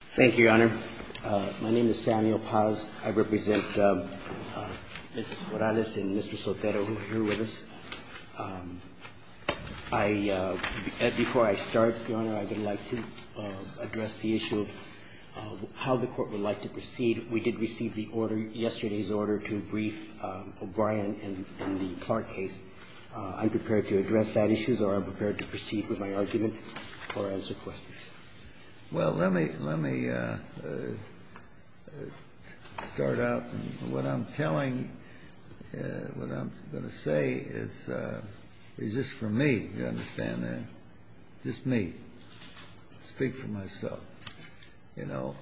Thank you, Your Honor. My name is Samuel Paz. I represent Mrs. Morales and Mr. Sotero who are here with us. I – before I start, Your Honor, I would like to address the issue of how the Court would like to proceed. We did receive the order, yesterday's order, to brief O'Brien in the Clark case. I'm prepared to address that issue, or I'm prepared to proceed with my argument or answer questions. Well, let me – let me start out. And what I'm telling – what I'm going to say is just for me, you understand, just me, speak for myself. You know,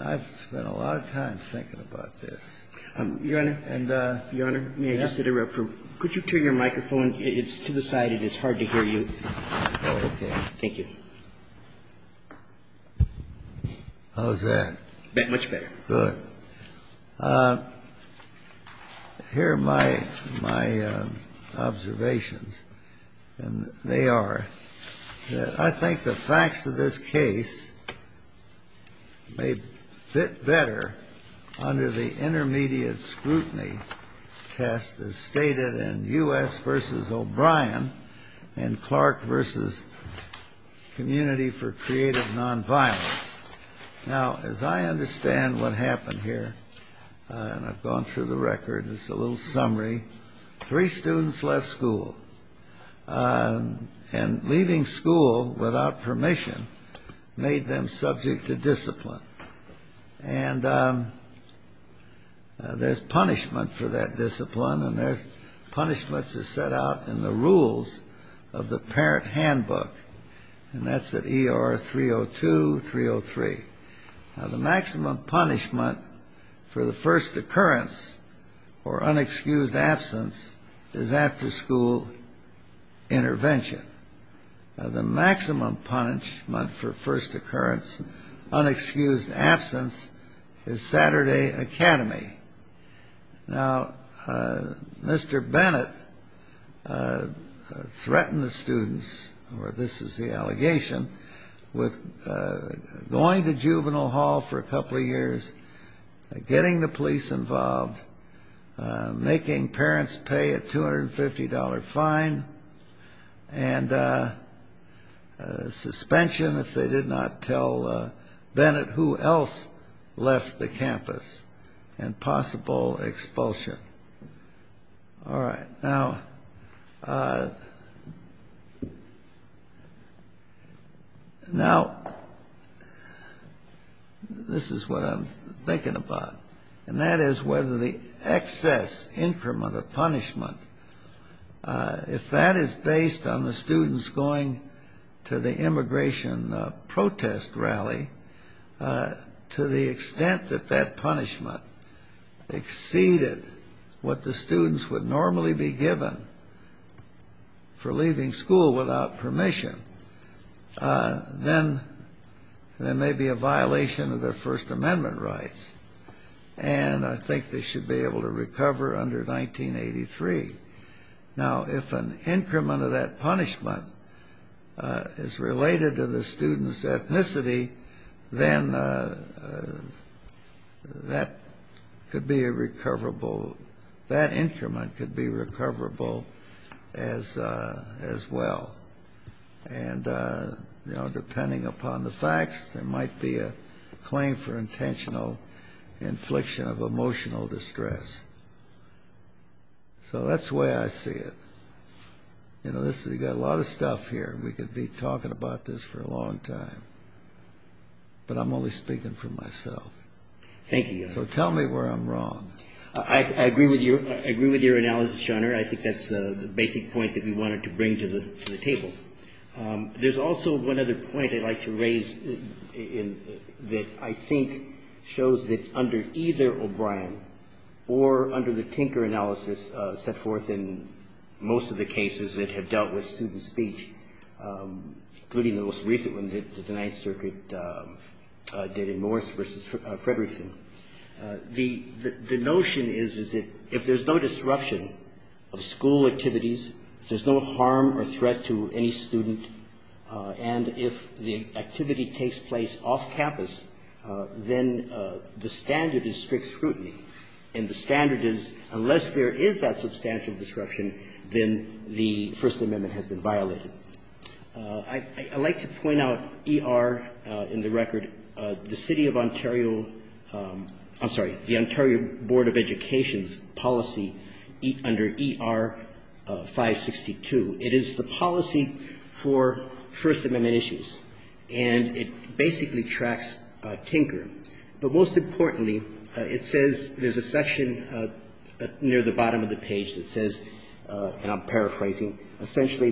I've spent a lot of time thinking about this. Your Honor, may I just interrupt for – could you turn your microphone? It's to the side. It is hard to hear you. Oh, okay. Thank you. How's that? Much better. Good. Here are my – my observations. And they are that I think the facts of this case may fit better under the intermediate scrutiny test as stated in U.S. v. O'Brien and Clark v. Community for Creative Nonviolence. Now, as I understand what happened here – and I've gone through the record. It's a little summary. Three students left school. And leaving school without permission made them subject to discipline. And there's punishment for the rules of the parent handbook. And that's at E.R. 302, 303. Now, the maximum punishment for the first occurrence or unexcused absence is after-school intervention. Now, the maximum punishment for first occurrence, unexcused absence, is Saturday Academy. Now, Mr. Bennett threatened the students – or this is the allegation – with going to juvenile hall for a couple of years, getting the police involved, making parents pay a $250 fine and suspension if they did not tell Bennett who else left the campus, and possible expulsion. All right. Now – now, this is what I'm thinking about. And that is whether the excess increment of punishment, if that is based on the students going to the immigration protest rally, to the extent that that punishment exceeded what the students would normally be given for leaving school without permission, then there may be a violation of their First Amendment rights. And I think they should be able to recover under 1983. Now, if an increment of that punishment is related to the students' ethnicity, then that could be a recoverable – that increment could be recoverable as – as well. And, you know, depending upon the facts, there is no infliction of emotional distress. So that's the way I see it. You know, this is – you've got a lot of stuff here. We could be talking about this for a long time. But I'm only speaking for myself. Thank you, Your Honor. So tell me where I'm wrong. I agree with your – I agree with your analysis, Your Honor. I think that's the basic point that we wanted to bring to the table. There's also one other point I'd like to raise that I think shows that under either O'Brien or under the Tinker analysis set forth in most of the cases that have dealt with student speech, including the most recent one that the Ninth Circuit did in Morris v. Fredrickson, the notion is, is that if there's no disruption of school activities, if there's no harm or threat to any student, and if the activity takes place off campus, then the standard is strict scrutiny. And the standard is unless there is that substantial disruption, then the First Amendment has been violated. I'd like to point out ER in the record. Under the City of Ontario – I'm sorry, the Ontario Board of Education's policy under ER-562, it is the policy for First Amendment issues, and it basically tracks Tinker. But most importantly, it says there's a section near the bottom of the page that says, and I'm paraphrasing, essentially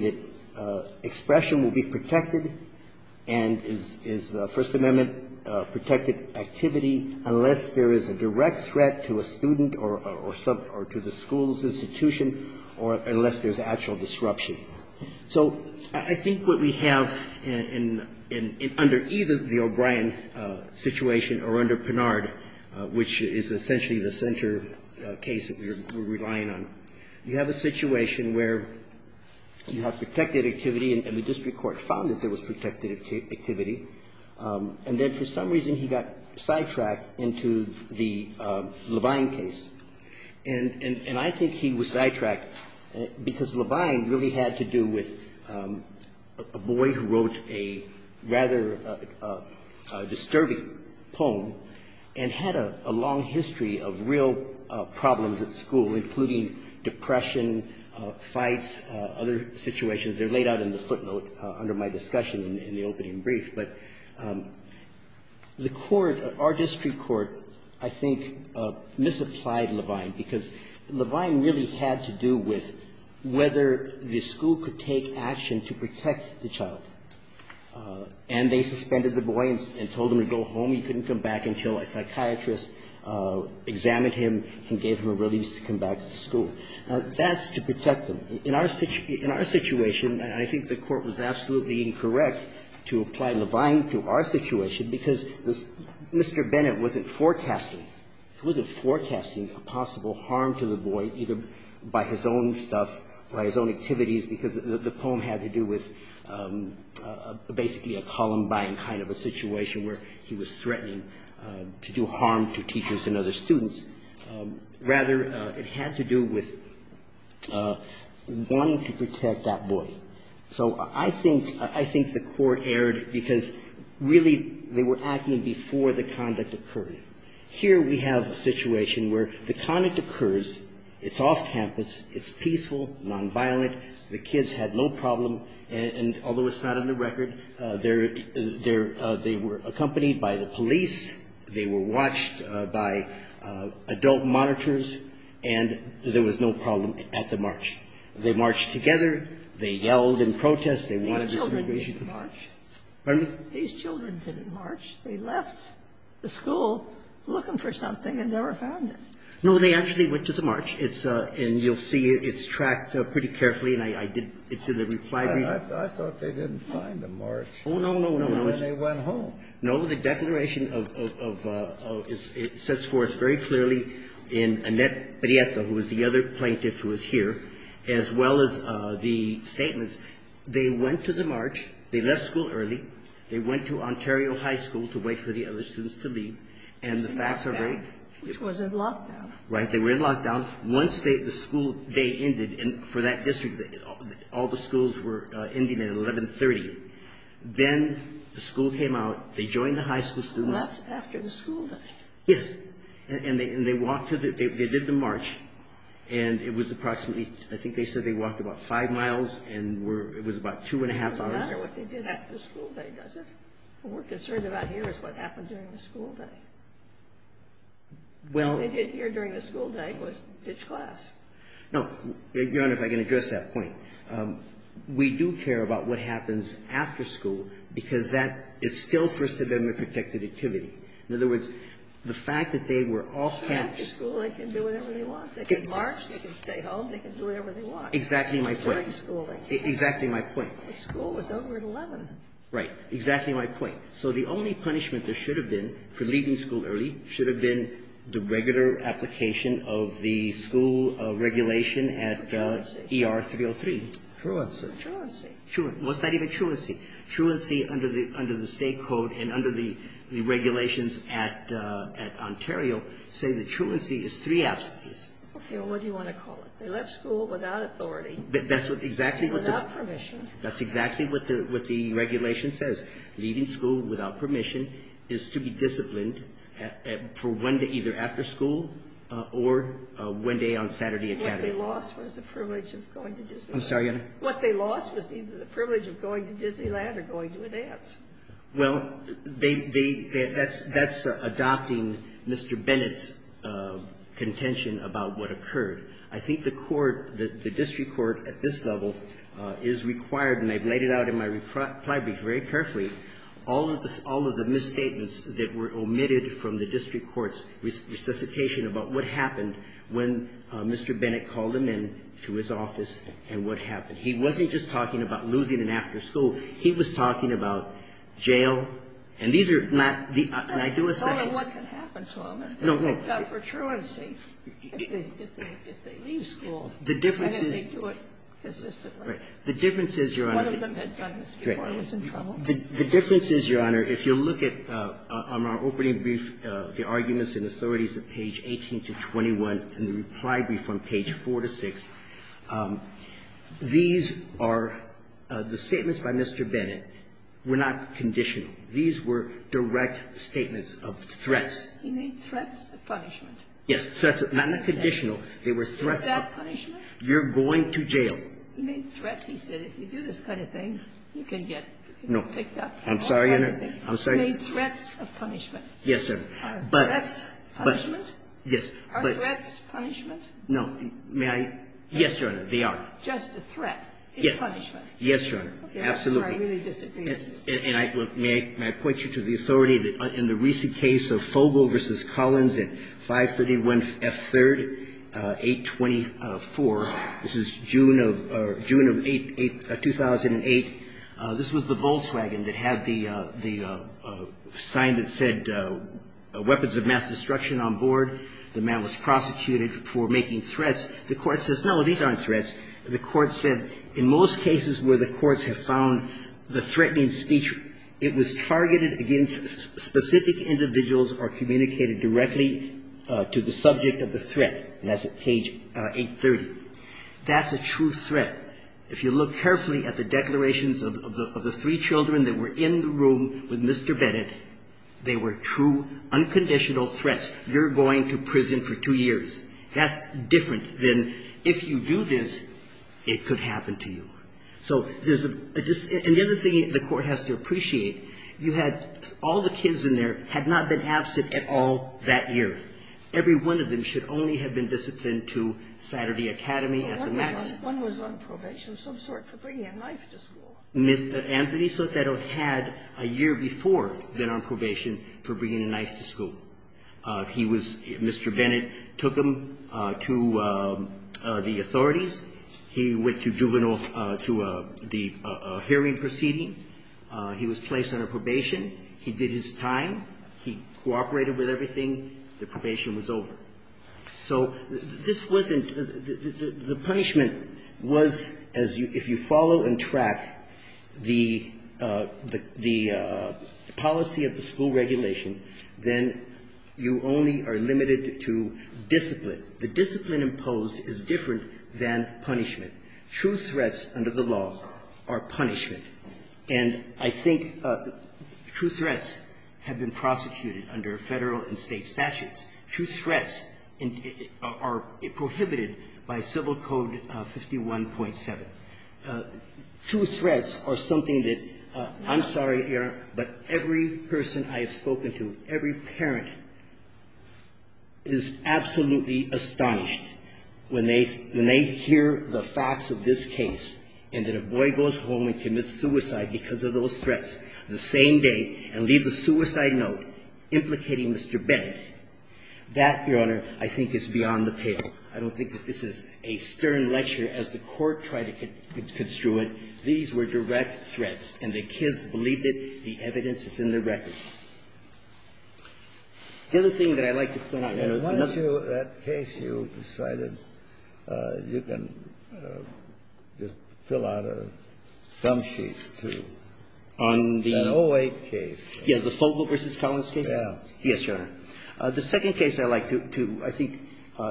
that expression will be protected and is First Amendment-protected activity unless there is a direct threat to a student or to the school's institution or unless there's actual disruption. So I think what we have in – under either the O'Brien situation or under Pinard, which is essentially the center case that we're relying on, you have a situation where you have protected activity, and the district court found that there was protected activity, and then for some reason he got sidetracked into the Levine case. And I think he was sidetracked because Levine really had to do with a boy who wrote a rather disturbing poem and had a long history of real problems at school, including depression, fights, other situations. They're laid out in the footnote under my discussion in the opening brief. But the court, our district court, I think, misapplied Levine because Levine really had to do with whether the school could take action to protect the child. And they suspended the boy and told him to go home. He couldn't come back until a psychiatrist examined him and gave him a release to come back to school. Now, that's to protect them. In our situation, and I think the court was absolutely incorrect to apply Levine to our situation because Mr. Bennett wasn't forecasting. He wasn't forecasting a possible harm to the boy, either by his own stuff, by his own activities, because the poem had to do with basically a Columbine kind of a situation where he was threatening to do harm to teachers and other students. Rather, it had to do with wanting to protect that boy. So I think the court erred because, really, they were acting before the conduct occurred. Here, I think the court was incorrect Here we have a situation where the conduct occurs, it's off campus, it's peaceful, nonviolent, the kids had no problem, and although it's not on the record, they're they were accompanied by the police, they were watched by adult monitors, and there was no problem at the march. They marched together, they yelled in protest, they wanted this immigration to happen. These children didn't march. Pardon me? No, they actually went to the march. And you'll see it's tracked pretty carefully, and I did, it's in the reply brief. I thought they didn't find the march. Oh, no, no, no. They went home. No, the declaration of, it sets forth very clearly in Annette Prieto, who was the other plaintiff who was here, as well as the statements, they went to the march, they left school early, they went to Ontario High School to wait for the other students to leave, and the facts are very Which was in lockdown. Right. They were in lockdown. Once the school day ended, and for that district, all the schools were ending at 1130, then the school came out, they joined the high school students That's after the school day. Yes. And they walked to the, they did the march, and it was approximately, I think they said they walked about five miles, and it was about two and a half hours It doesn't matter what they did after the school day, does it? What we're concerned about here is what happened during the school day. Well What they did here during the school day was ditch class. No. Your Honor, if I can address that point. We do care about what happens after school, because that, it's still First Amendment protected activity. In other words, the fact that they were off campus After school, they can do whatever they want. They can march, they can stay home, they can do whatever they want. Exactly my point. During schooling. Exactly my point. The school was over at 11. Right. Exactly my point. So the only punishment there should have been for leaving school early should have been the regular application of the school regulation at ER 303. Truancy. Truancy. What's that even, truancy? Truancy under the State Code and under the regulations at Ontario say that truancy is three absences. Okay. Well, what do you want to call it? They left school without authority. That's exactly what the Without permission. That's exactly what the regulation says. Leaving school without permission is to be disciplined for one day, either after school or one day on Saturday at campus. What they lost was the privilege of going to Disneyland. I'm sorry, Your Honor. What they lost was either the privilege of going to Disneyland or going to a dance. Well, they, they, that's, that's adopting Mr. Bennett's contention about what occurred. I think the court, the district court at this level is required, and I've laid it out in my reply brief very carefully, all of the, all of the misstatements that were omitted from the district court's resuscitation about what happened when Mr. Bennett called him in to his office and what happened. He wasn't just talking about losing it after school. He was talking about jail. And these are not the ideal essential. I don't know what can happen to them. No, no. But for truancy, if they, if they leave school, then they do it consistently. The difference is, Your Honor. One of them had done this before and was in trouble. The difference is, Your Honor, if you look at, on our opening brief, the arguments in Authorities at page 18 to 21 in the reply brief on page 4 to 6, these are the statements by Mr. Bennett were not conditional. These were direct statements of threats. He made threats of punishment. Yes. Threats, not conditional. They were threats of punishment. Is that punishment? You're going to jail. He made threats. He said if you do this kind of thing, you can get picked up. No. I'm sorry, Your Honor. I'm sorry. He made threats of punishment. Yes, sir. Threats, punishment? Yes. Are threats punishment? No. May I? Yes, Your Honor, they are. Just a threat is punishment. Yes, Your Honor. Absolutely. That's where I really disagree. And may I point you to the authority that in the recent case of Fogle v. Collins at 531F3rd 824, this is June of 2008, this was the Volkswagen that had the sign that said weapons of mass destruction on board, the man was prosecuted for making threats. The Court says, no, these aren't threats. The Court says, in most cases where the courts have found the threatening speech, it was targeted against specific individuals or communicated directly to the subject of the threat. And that's at page 830. That's a true threat. If you look carefully at the declarations of the three children that were in the room with Mr. Bennett, they were true, unconditional threats. You're going to prison for two years. That's different than if you do this, it could happen to you. So there's a dis — and the other thing the Court has to appreciate, you had — all the kids in there had not been absent at all that year. Every one of them should only have been disciplined to Saturday Academy at the max. One was on probation of some sort for bringing a knife to school. Anthony Sotero had a year before been on probation for bringing a knife to school. He was — Mr. Bennett took him to the authorities. He went to juvenile — to the hearing proceeding. He was placed under probation. He did his time. He cooperated with everything. The probation was over. So this wasn't — the punishment was, as you — if you follow and track the — the policy of the school regulation, then you only are limited to discipline. The discipline imposed is different than punishment. True threats under the law are punishment. And I think true threats have been prosecuted under Federal and State statutes. True threats are prohibited by Civil Code 51.7. True threats are something that — I'm sorry, Your Honor, but every person I have spoken to, every parent is absolutely astonished when they — when they hear the facts of this case and that a boy goes home and commits suicide because of those threats the same day and leaves a suicide note implicating Mr. Bennett. That, Your Honor, I think is beyond the pale. I don't think that this is a stern lecture as the Court tried to construe it. These were direct threats, and the kids believed it. The evidence is in the record. The other thing that I'd like to point out, Your Honor, once you — that case you decided you can just fill out a dump sheet to — on the O-8 case. Yes. The Fogle v. Collins case? Yes, Your Honor. The second case I'd like to, I think,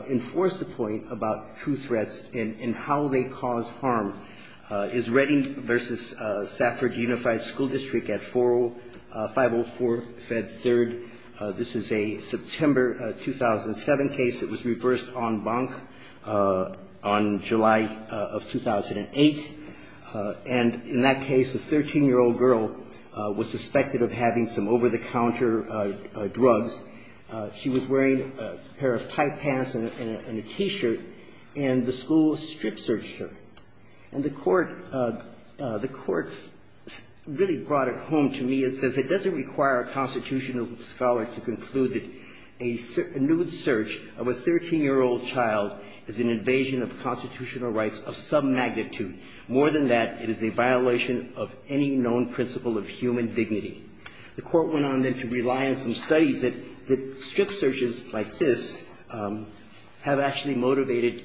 enforce the point about true threats and how they cause harm is Redding v. Safford Unified School District at 504 Fed 3rd. This is a September 2007 case. It was reversed en banc on July of 2008. And in that case, a 13-year-old girl was suspected of having some over-the-counter drugs. She was wearing a pair of tight pants and a T-shirt, and the school strip-searched her. And the Court — the Court really brought it home to me. It says it doesn't require a constitutional scholar to conclude that a nude search of a 13-year-old child is an invasion of constitutional rights of some magnitude. More than that, it is a violation of any known principle of human dignity. The Court went on, then, to rely on some studies that strip searches like this have actually motivated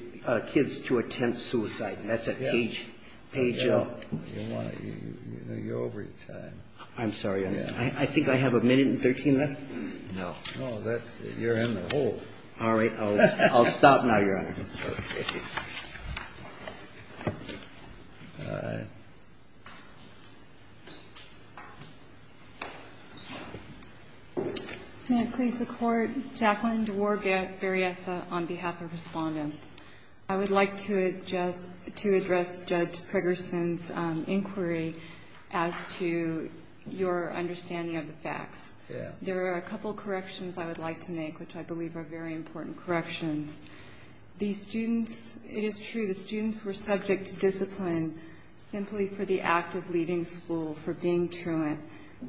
kids to attempt suicide. And that's at page — page — You're over your time. I'm sorry, Your Honor. I think I have a minute and 13 left? No. No, that's — you're in the hole. All right. I'll stop now, Your Honor. All right. May it please the Court? Jacqueline DeWaar-Variessa on behalf of Respondents. I would like to address Judge Fregerson's inquiry as to your understanding of the facts. There are a couple of corrections I would like to make, which I believe are very important corrections. The students — it is true, the students were subject to discipline simply for the act of leaving school, for being truant.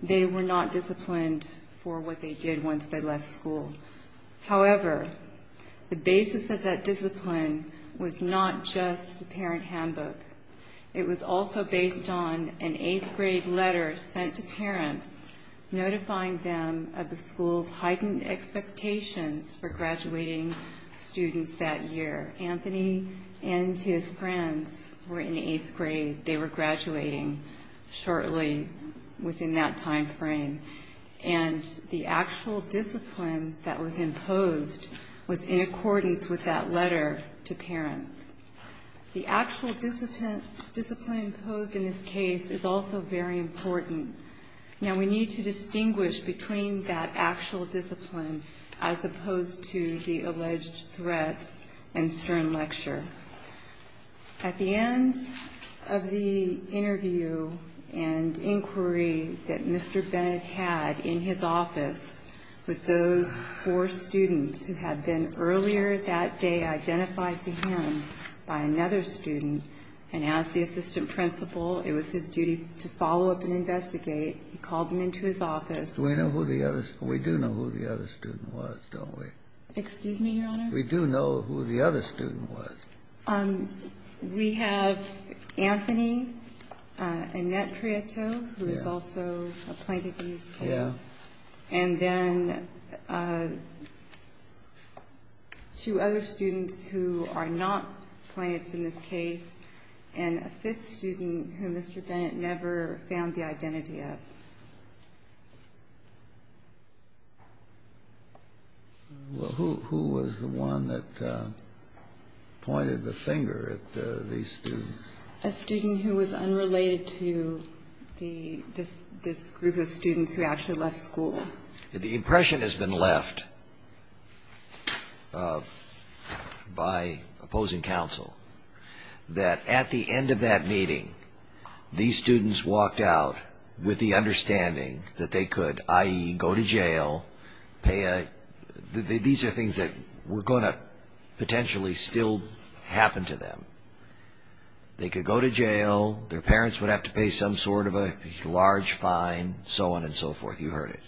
They were not disciplined for what they did once they left school. However, the basis of that discipline was not just the parent handbook. It was also based on an eighth-grade letter sent to parents notifying them of the year. Anthony and his friends were in eighth grade. They were graduating shortly within that timeframe. And the actual discipline that was imposed was in accordance with that letter to parents. The actual discipline imposed in this case is also very important. Now, we need to distinguish between that actual discipline as opposed to the alleged threats and stern lecture. At the end of the interview and inquiry that Mr. Bennett had in his office with those four students who had been earlier that day identified to him by another student, and as the assistant principal, it was his duty to follow up and investigate, he called them into his office. We know who the other — we do know who the other student was, don't we? Excuse me, Your Honor? We do know who the other student was. We have Anthony, Annette Prieto, who is also a plaintiff in this case. Yes. And then two other students who are not plaintiffs in this case, and a fifth student who Mr. Bennett never found the identity of. Well, who was the one that pointed the finger at these students? A student who was unrelated to this group of students who actually left school. The impression has been left by opposing counsel that at the end of that meeting these students walked out with the understanding that they could, i.e., go to jail, pay a — these are things that were going to potentially still happen to them. They could go to jail, their parents would have to pay some sort of a large fine, so on and so forth. You heard it.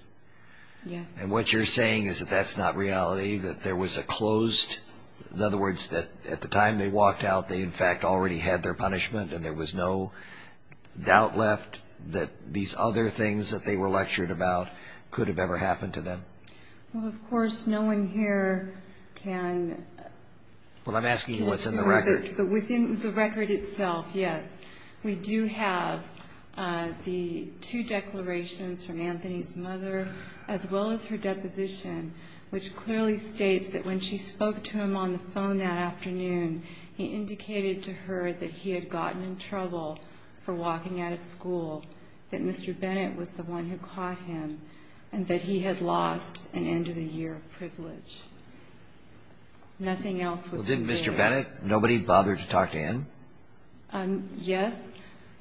Yes. And what you're saying is that that's not reality, that there was a closed — in other words, that at the time they walked out they in fact already had their school, doubt left that these other things that they were lectured about could have ever happened to them. Well, of course, no one here can — Well, I'm asking you what's in the record. Within the record itself, yes. We do have the two declarations from Anthony's mother as well as her deposition, which clearly states that when she spoke to him on the phone that afternoon he indicated to her that he had gotten in trouble for walking out of school, that Mr. Bennett was the one who caught him, and that he had lost an end-of-the-year privilege. Nothing else was included. Well, didn't Mr. Bennett, nobody bother to talk to him? Yes.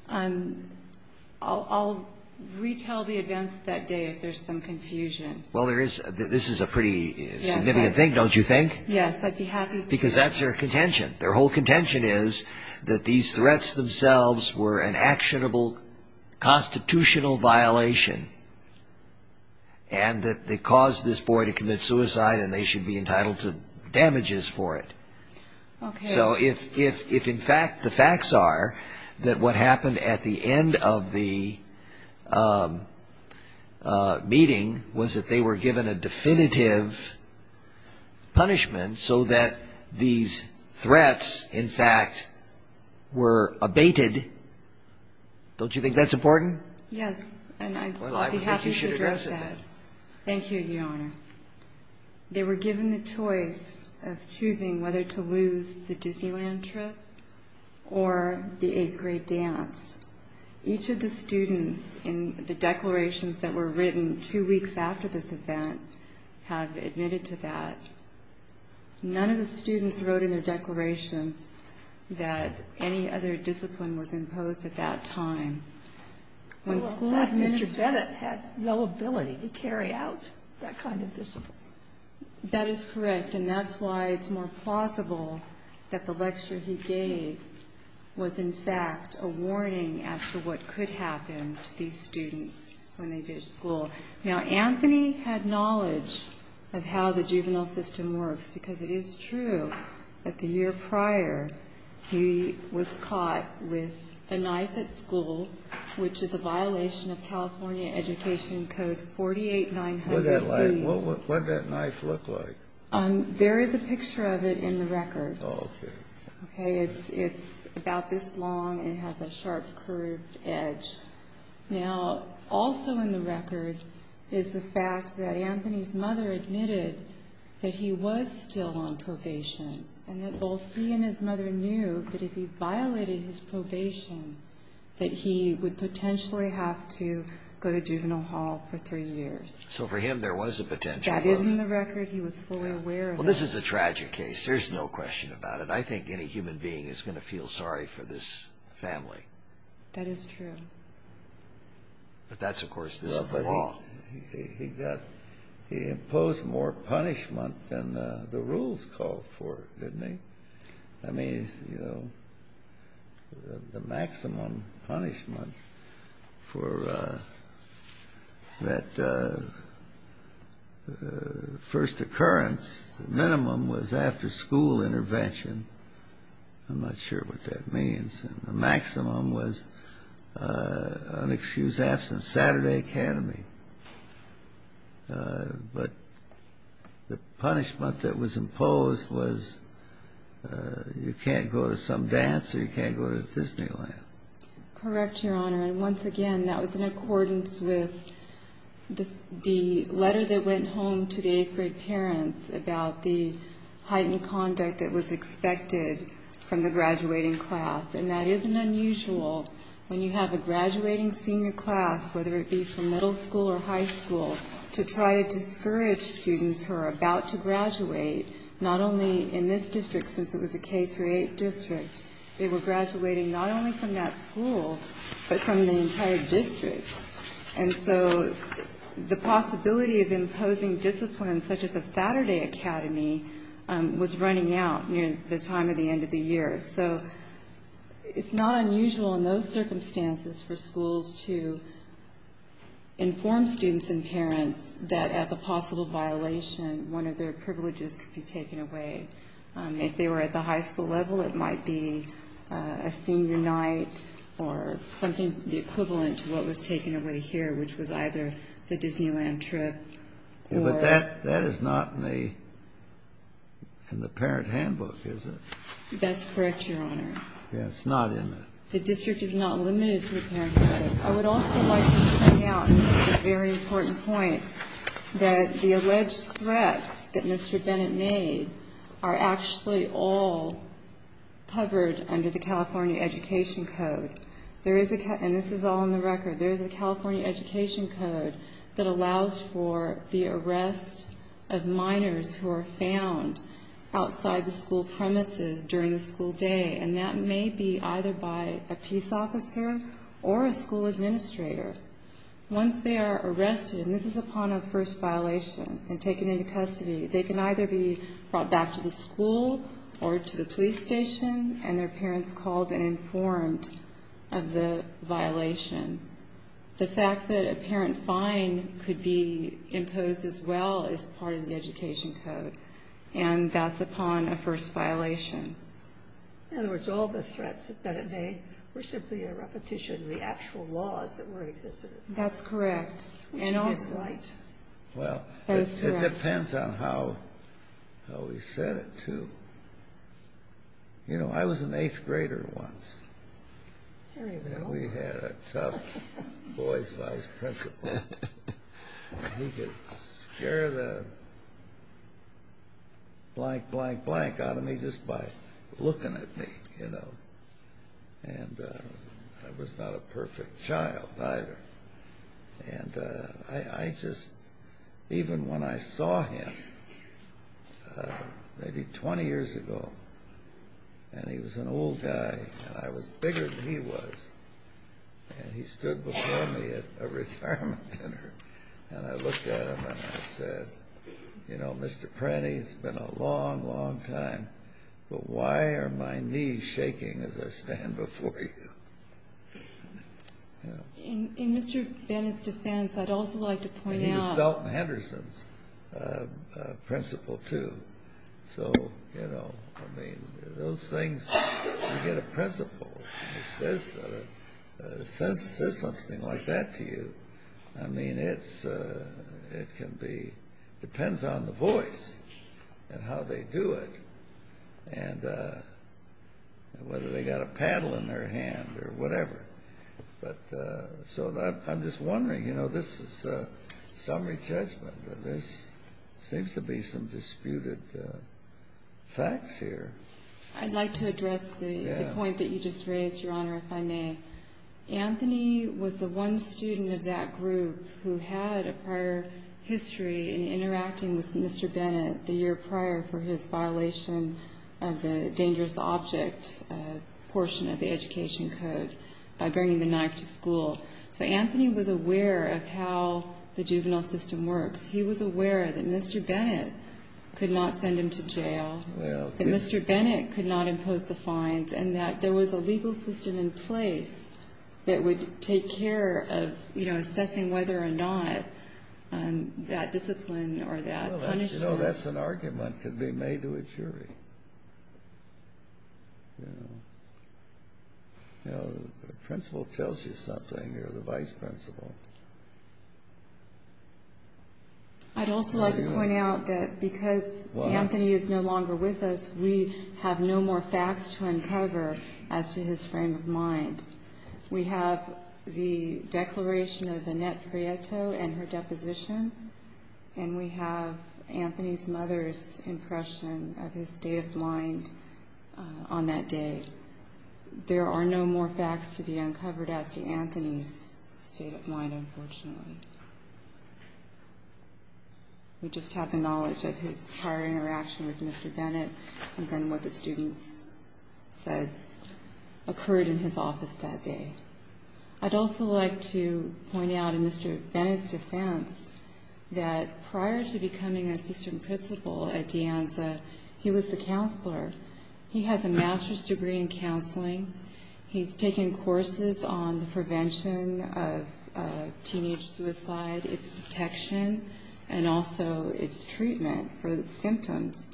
I'll retell the events that day if there's some confusion. Well, there is. This is a pretty significant thing, don't you think? Yes, I'd be happy to. Because that's their contention. Their whole contention is that these threats themselves were an actionable constitutional violation and that they caused this boy to commit suicide and they should be entitled to damages for it. So if, in fact, the facts are that what happened at the end of the meeting was that they were given a definitive punishment so that these threats, in fact, were abated, don't you think that's important? Yes, and I'd be happy to address that. Thank you, Your Honor. They were given the choice of choosing whether to lose the Disneyland trip or the eighth-grade dance. Each of the students in the declarations that were written two weeks after this event have admitted to that. None of the students wrote in their declarations that any other discipline was imposed at that time. Well, in fact, Mr. Bennett had no ability to carry out that kind of discipline. That is correct, and that's why it's more plausible that the lecture he gave was, in fact, a warning as to what could happen to these students when they did school. Now, Anthony had knowledge of how the juvenile system works because it is true that the year prior he was caught with a knife at school, which is a violation of California Education Code 48900B. What did that knife look like? There is a picture of it in the record. Okay. It's about this long, and it has a sharp, curved edge. Now, also in the record is the fact that Anthony's mother admitted that he was still on probation and that both he and his mother knew that if he violated his probation, that he would potentially have to go to juvenile hall for three years. So for him, there was a potential. That is in the record. He was fully aware of that. Well, this is a tragic case. There's no question about it. I think any human being is going to feel sorry for this family. That is true. But that's, of course, the law. He imposed more punishment than the rules called for, didn't he? I mean, you know, the maximum punishment for that first occurrence, the minimum was after-school intervention. I'm not sure what that means. The maximum was unexcused absence, Saturday Academy. But the punishment that was imposed was you can't go to some dance or you can't go to Disneyland. Correct, Your Honor. And once again, that was in accordance with the letter that went home to the eighth-grade parents about the heightened conduct that was expected from the graduating class. And that isn't unusual. When you have a graduating senior class, whether it be from middle school or high school, to try to discourage students who are about to graduate, not only in this district, since it was a K-8 district, they were graduating not only from that school, but from the entire district. And so the possibility of imposing discipline such as a Saturday Academy was running out near the time of the end of the year. So it's not unusual in those circumstances for schools to inform students and parents that as a possible violation, one of their privileges could be taken away. If they were at the high school level, it might be a senior night or something equivalent to what was taken away here, which was either the Disneyland trip. But that is not in the parent handbook, is it? That's correct, Your Honor. Yes. It's not in it. The district is not limited to the parent handbook. I would also like to point out, and this is a very important point, that the alleged threats that Mr. Bennett made are actually all covered under the California Education Code. There is a ca- And this is all on the record. There is a California Education Code that allows for the arrest of minors who are found outside the school premises during the school day, and that may be either by a peace officer or a school administrator. Once they are arrested, and this is upon a first violation and taken into custody, they can either be brought back to the school or to the police station, and their parents called and informed of the violation. The fact that a parent fine could be imposed as well is part of the Education Code, and that's upon a first violation. In other words, all the threats that Bennett made were simply a repetition of the actual laws that were in existence. That's correct. Which would be slight. That is correct. Well, it depends on how he said it, too. You know, I was an eighth grader once. There you go. And we had a tough boys' vice principal. He could scare the blank, blank, blank out of me just by looking at me, you know. And I was not a perfect child, either. And I just, even when I saw him maybe 20 years ago, and he was an old guy, and I was bigger than he was, and he stood before me at a retirement dinner, and I looked at him and I said, you know, Mr. Pratty, it's been a long, long time, but why are my knees shaking as I stand before you? You know. In Mr. Bennett's defense, I'd also like to point out. And he was Dalton Henderson's principal, too. So, you know, I mean, those things, you get a principal who says something like that to you. I mean, it can be, depends on the voice and how they do it, and whether they got a paddle in their hand or whatever. But so I'm just wondering, you know, this is summary judgment, but there seems to be some disputed facts here. I'd like to address the point that you just raised, Your Honor, if I may. Anthony was the one student of that group who had a prior history in interacting with Mr. Bennett the year prior for his violation of the dangerous object portion of the education code by bringing the knife to school. So Anthony was aware of how the juvenile system works. He was aware that Mr. Bennett could not send him to jail, that Mr. Bennett could not impose the fines, and that there was a legal system in place that would take care of, you know, assessing whether or not that discipline or that punishment. You know, that's an argument that could be made to a jury. You know, the principal tells you something, or the vice principal. I'd also like to point out that because Anthony is no longer with us, we have no more facts to uncover as to his frame of mind. We have the declaration of Annette Prieto and her deposition, and we have Anthony's mother's impression of his state of mind on that day. There are no more facts to be uncovered as to Anthony's state of mind, unfortunately. We just have the knowledge of his prior interaction with Mr. Bennett and then what the students said occurred in his office that day. I'd also like to point out in Mr. Bennett's defense that prior to becoming assistant principal at De Anza, he was the counselor. He has a master's degree in counseling. He's taken courses on the prevention of teenage suicide, its detection, and also its treatment for the symptoms.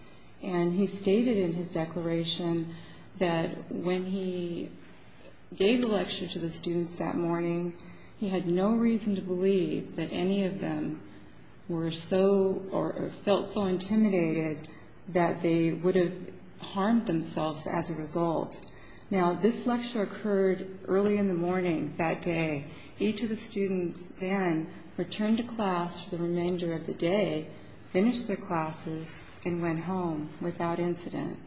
And he stated in his declaration that when he gave the lecture to the students that morning, he had no reason to believe that any of them were so or felt so intimidated that they would have harmed themselves as a result. Now, this lecture occurred early in the morning that day. Each of the students then returned to class for the remainder of the day, finished their classes, and went home without incident.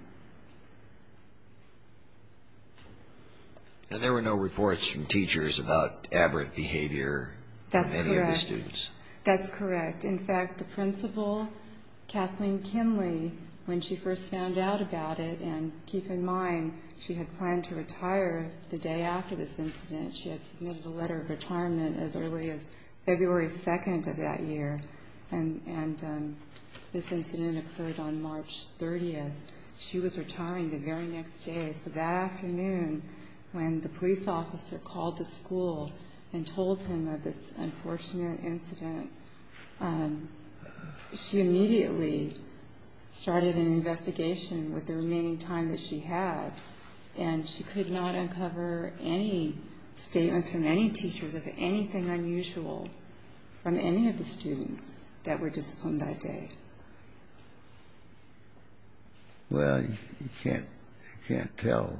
And there were no reports from teachers about aberrant behavior of any of the students? That's correct. In fact, the principal, Kathleen Kinley, when she first found out about it, and keep in mind she had planned to retire the day after this incident, she had submitted a letter of retirement as early as February 2nd of that year, and this incident occurred on March 30th. She was retiring the very next day, so that afternoon when the police officer called the school and told him of this unfortunate incident, she immediately started an investigation with the remaining time that she had, and she could not uncover any statements from any teachers of anything unusual from any of the students that were disciplined that day. Well, you can't tell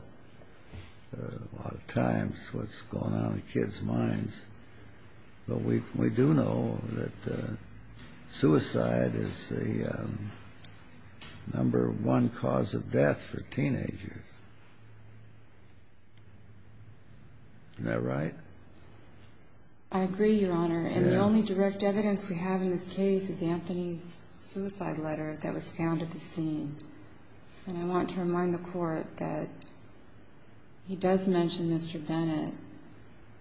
a lot of times what's going on in kids' minds, but we do know that suicide is the number one cause of death for teenagers. Isn't that right? I agree, Your Honor, and the only direct evidence we have in this case is Anthony's suicide letter that was found at the scene, and I want to remind the Court that he does mention Mr. Bennett,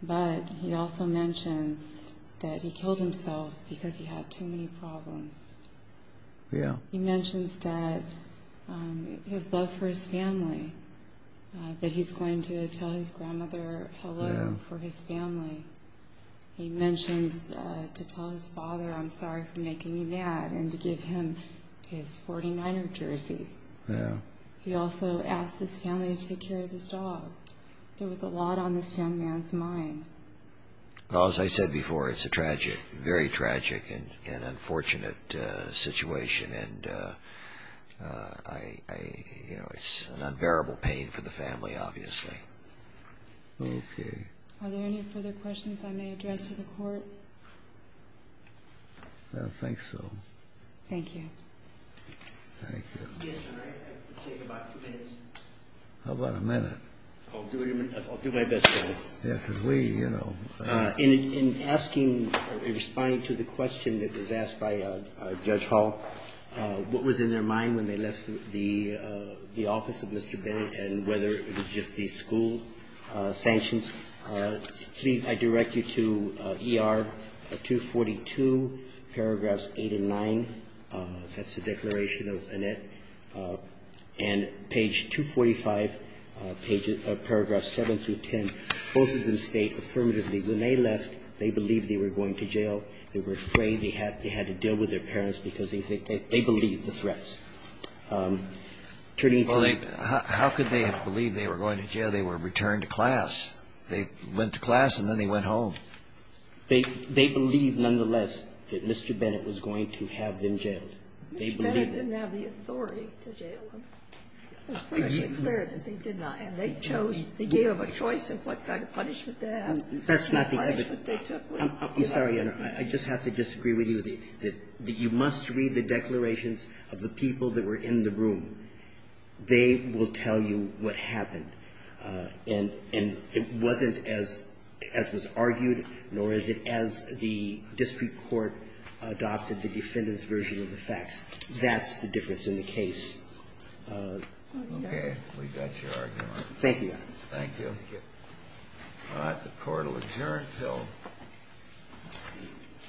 but he also mentions that he killed himself because he had too many problems. Yeah. He mentions that his love for his family, that he's going to tell his grandmother hello for his family. He mentions to tell his father, I'm sorry for making you mad, and to give him his 49er jersey. Yeah. He also asks his family to take care of his job. There was a lot on this young man's mind. Well, as I said before, it's a tragic, very tragic and unfortunate situation, and it's an unbearable pain for the family, obviously. Okay. Are there any further questions I may address for the Court? I don't think so. Thank you. Thank you. Yes, Your Honor, I think about two minutes. How about a minute? I'll do my best, Your Honor. Yeah, because we, you know. In asking or responding to the question that was asked by Judge Hall, what was in their mind when they left the office of Mr. Bennett and whether it was just the school sanctions, please, I direct you to ER 242, paragraphs 8 and 9. That's the declaration of Annette. And page 245, paragraphs 7 through 10, both of them state affirmatively when they left, they believed they were going to jail. They were afraid. They had to deal with their parents because they believed the threats. Well, how could they have believed they were going to jail? They were returned to class. They went to class, and then they went home. They believed, nonetheless, that Mr. Bennett was going to have them jailed. They believed it. Mr. Bennett didn't have the authority to jail them. It's pretty clear that they did not. And they chose, they gave them a choice of what kind of punishment to have. That's not the evidence. I'm sorry, Your Honor. I just have to disagree with you. You must read the declarations of the people that were in the room. They will tell you what happened. And it wasn't as was argued, nor is it as the district court adopted the defendant's version of the facts. That's the difference in the case. Okay. We got your argument. Thank you, Your Honor. Thank you. All right. The court will adjourn until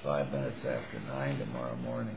5 minutes after 9 tomorrow morning. All rise for the second and third.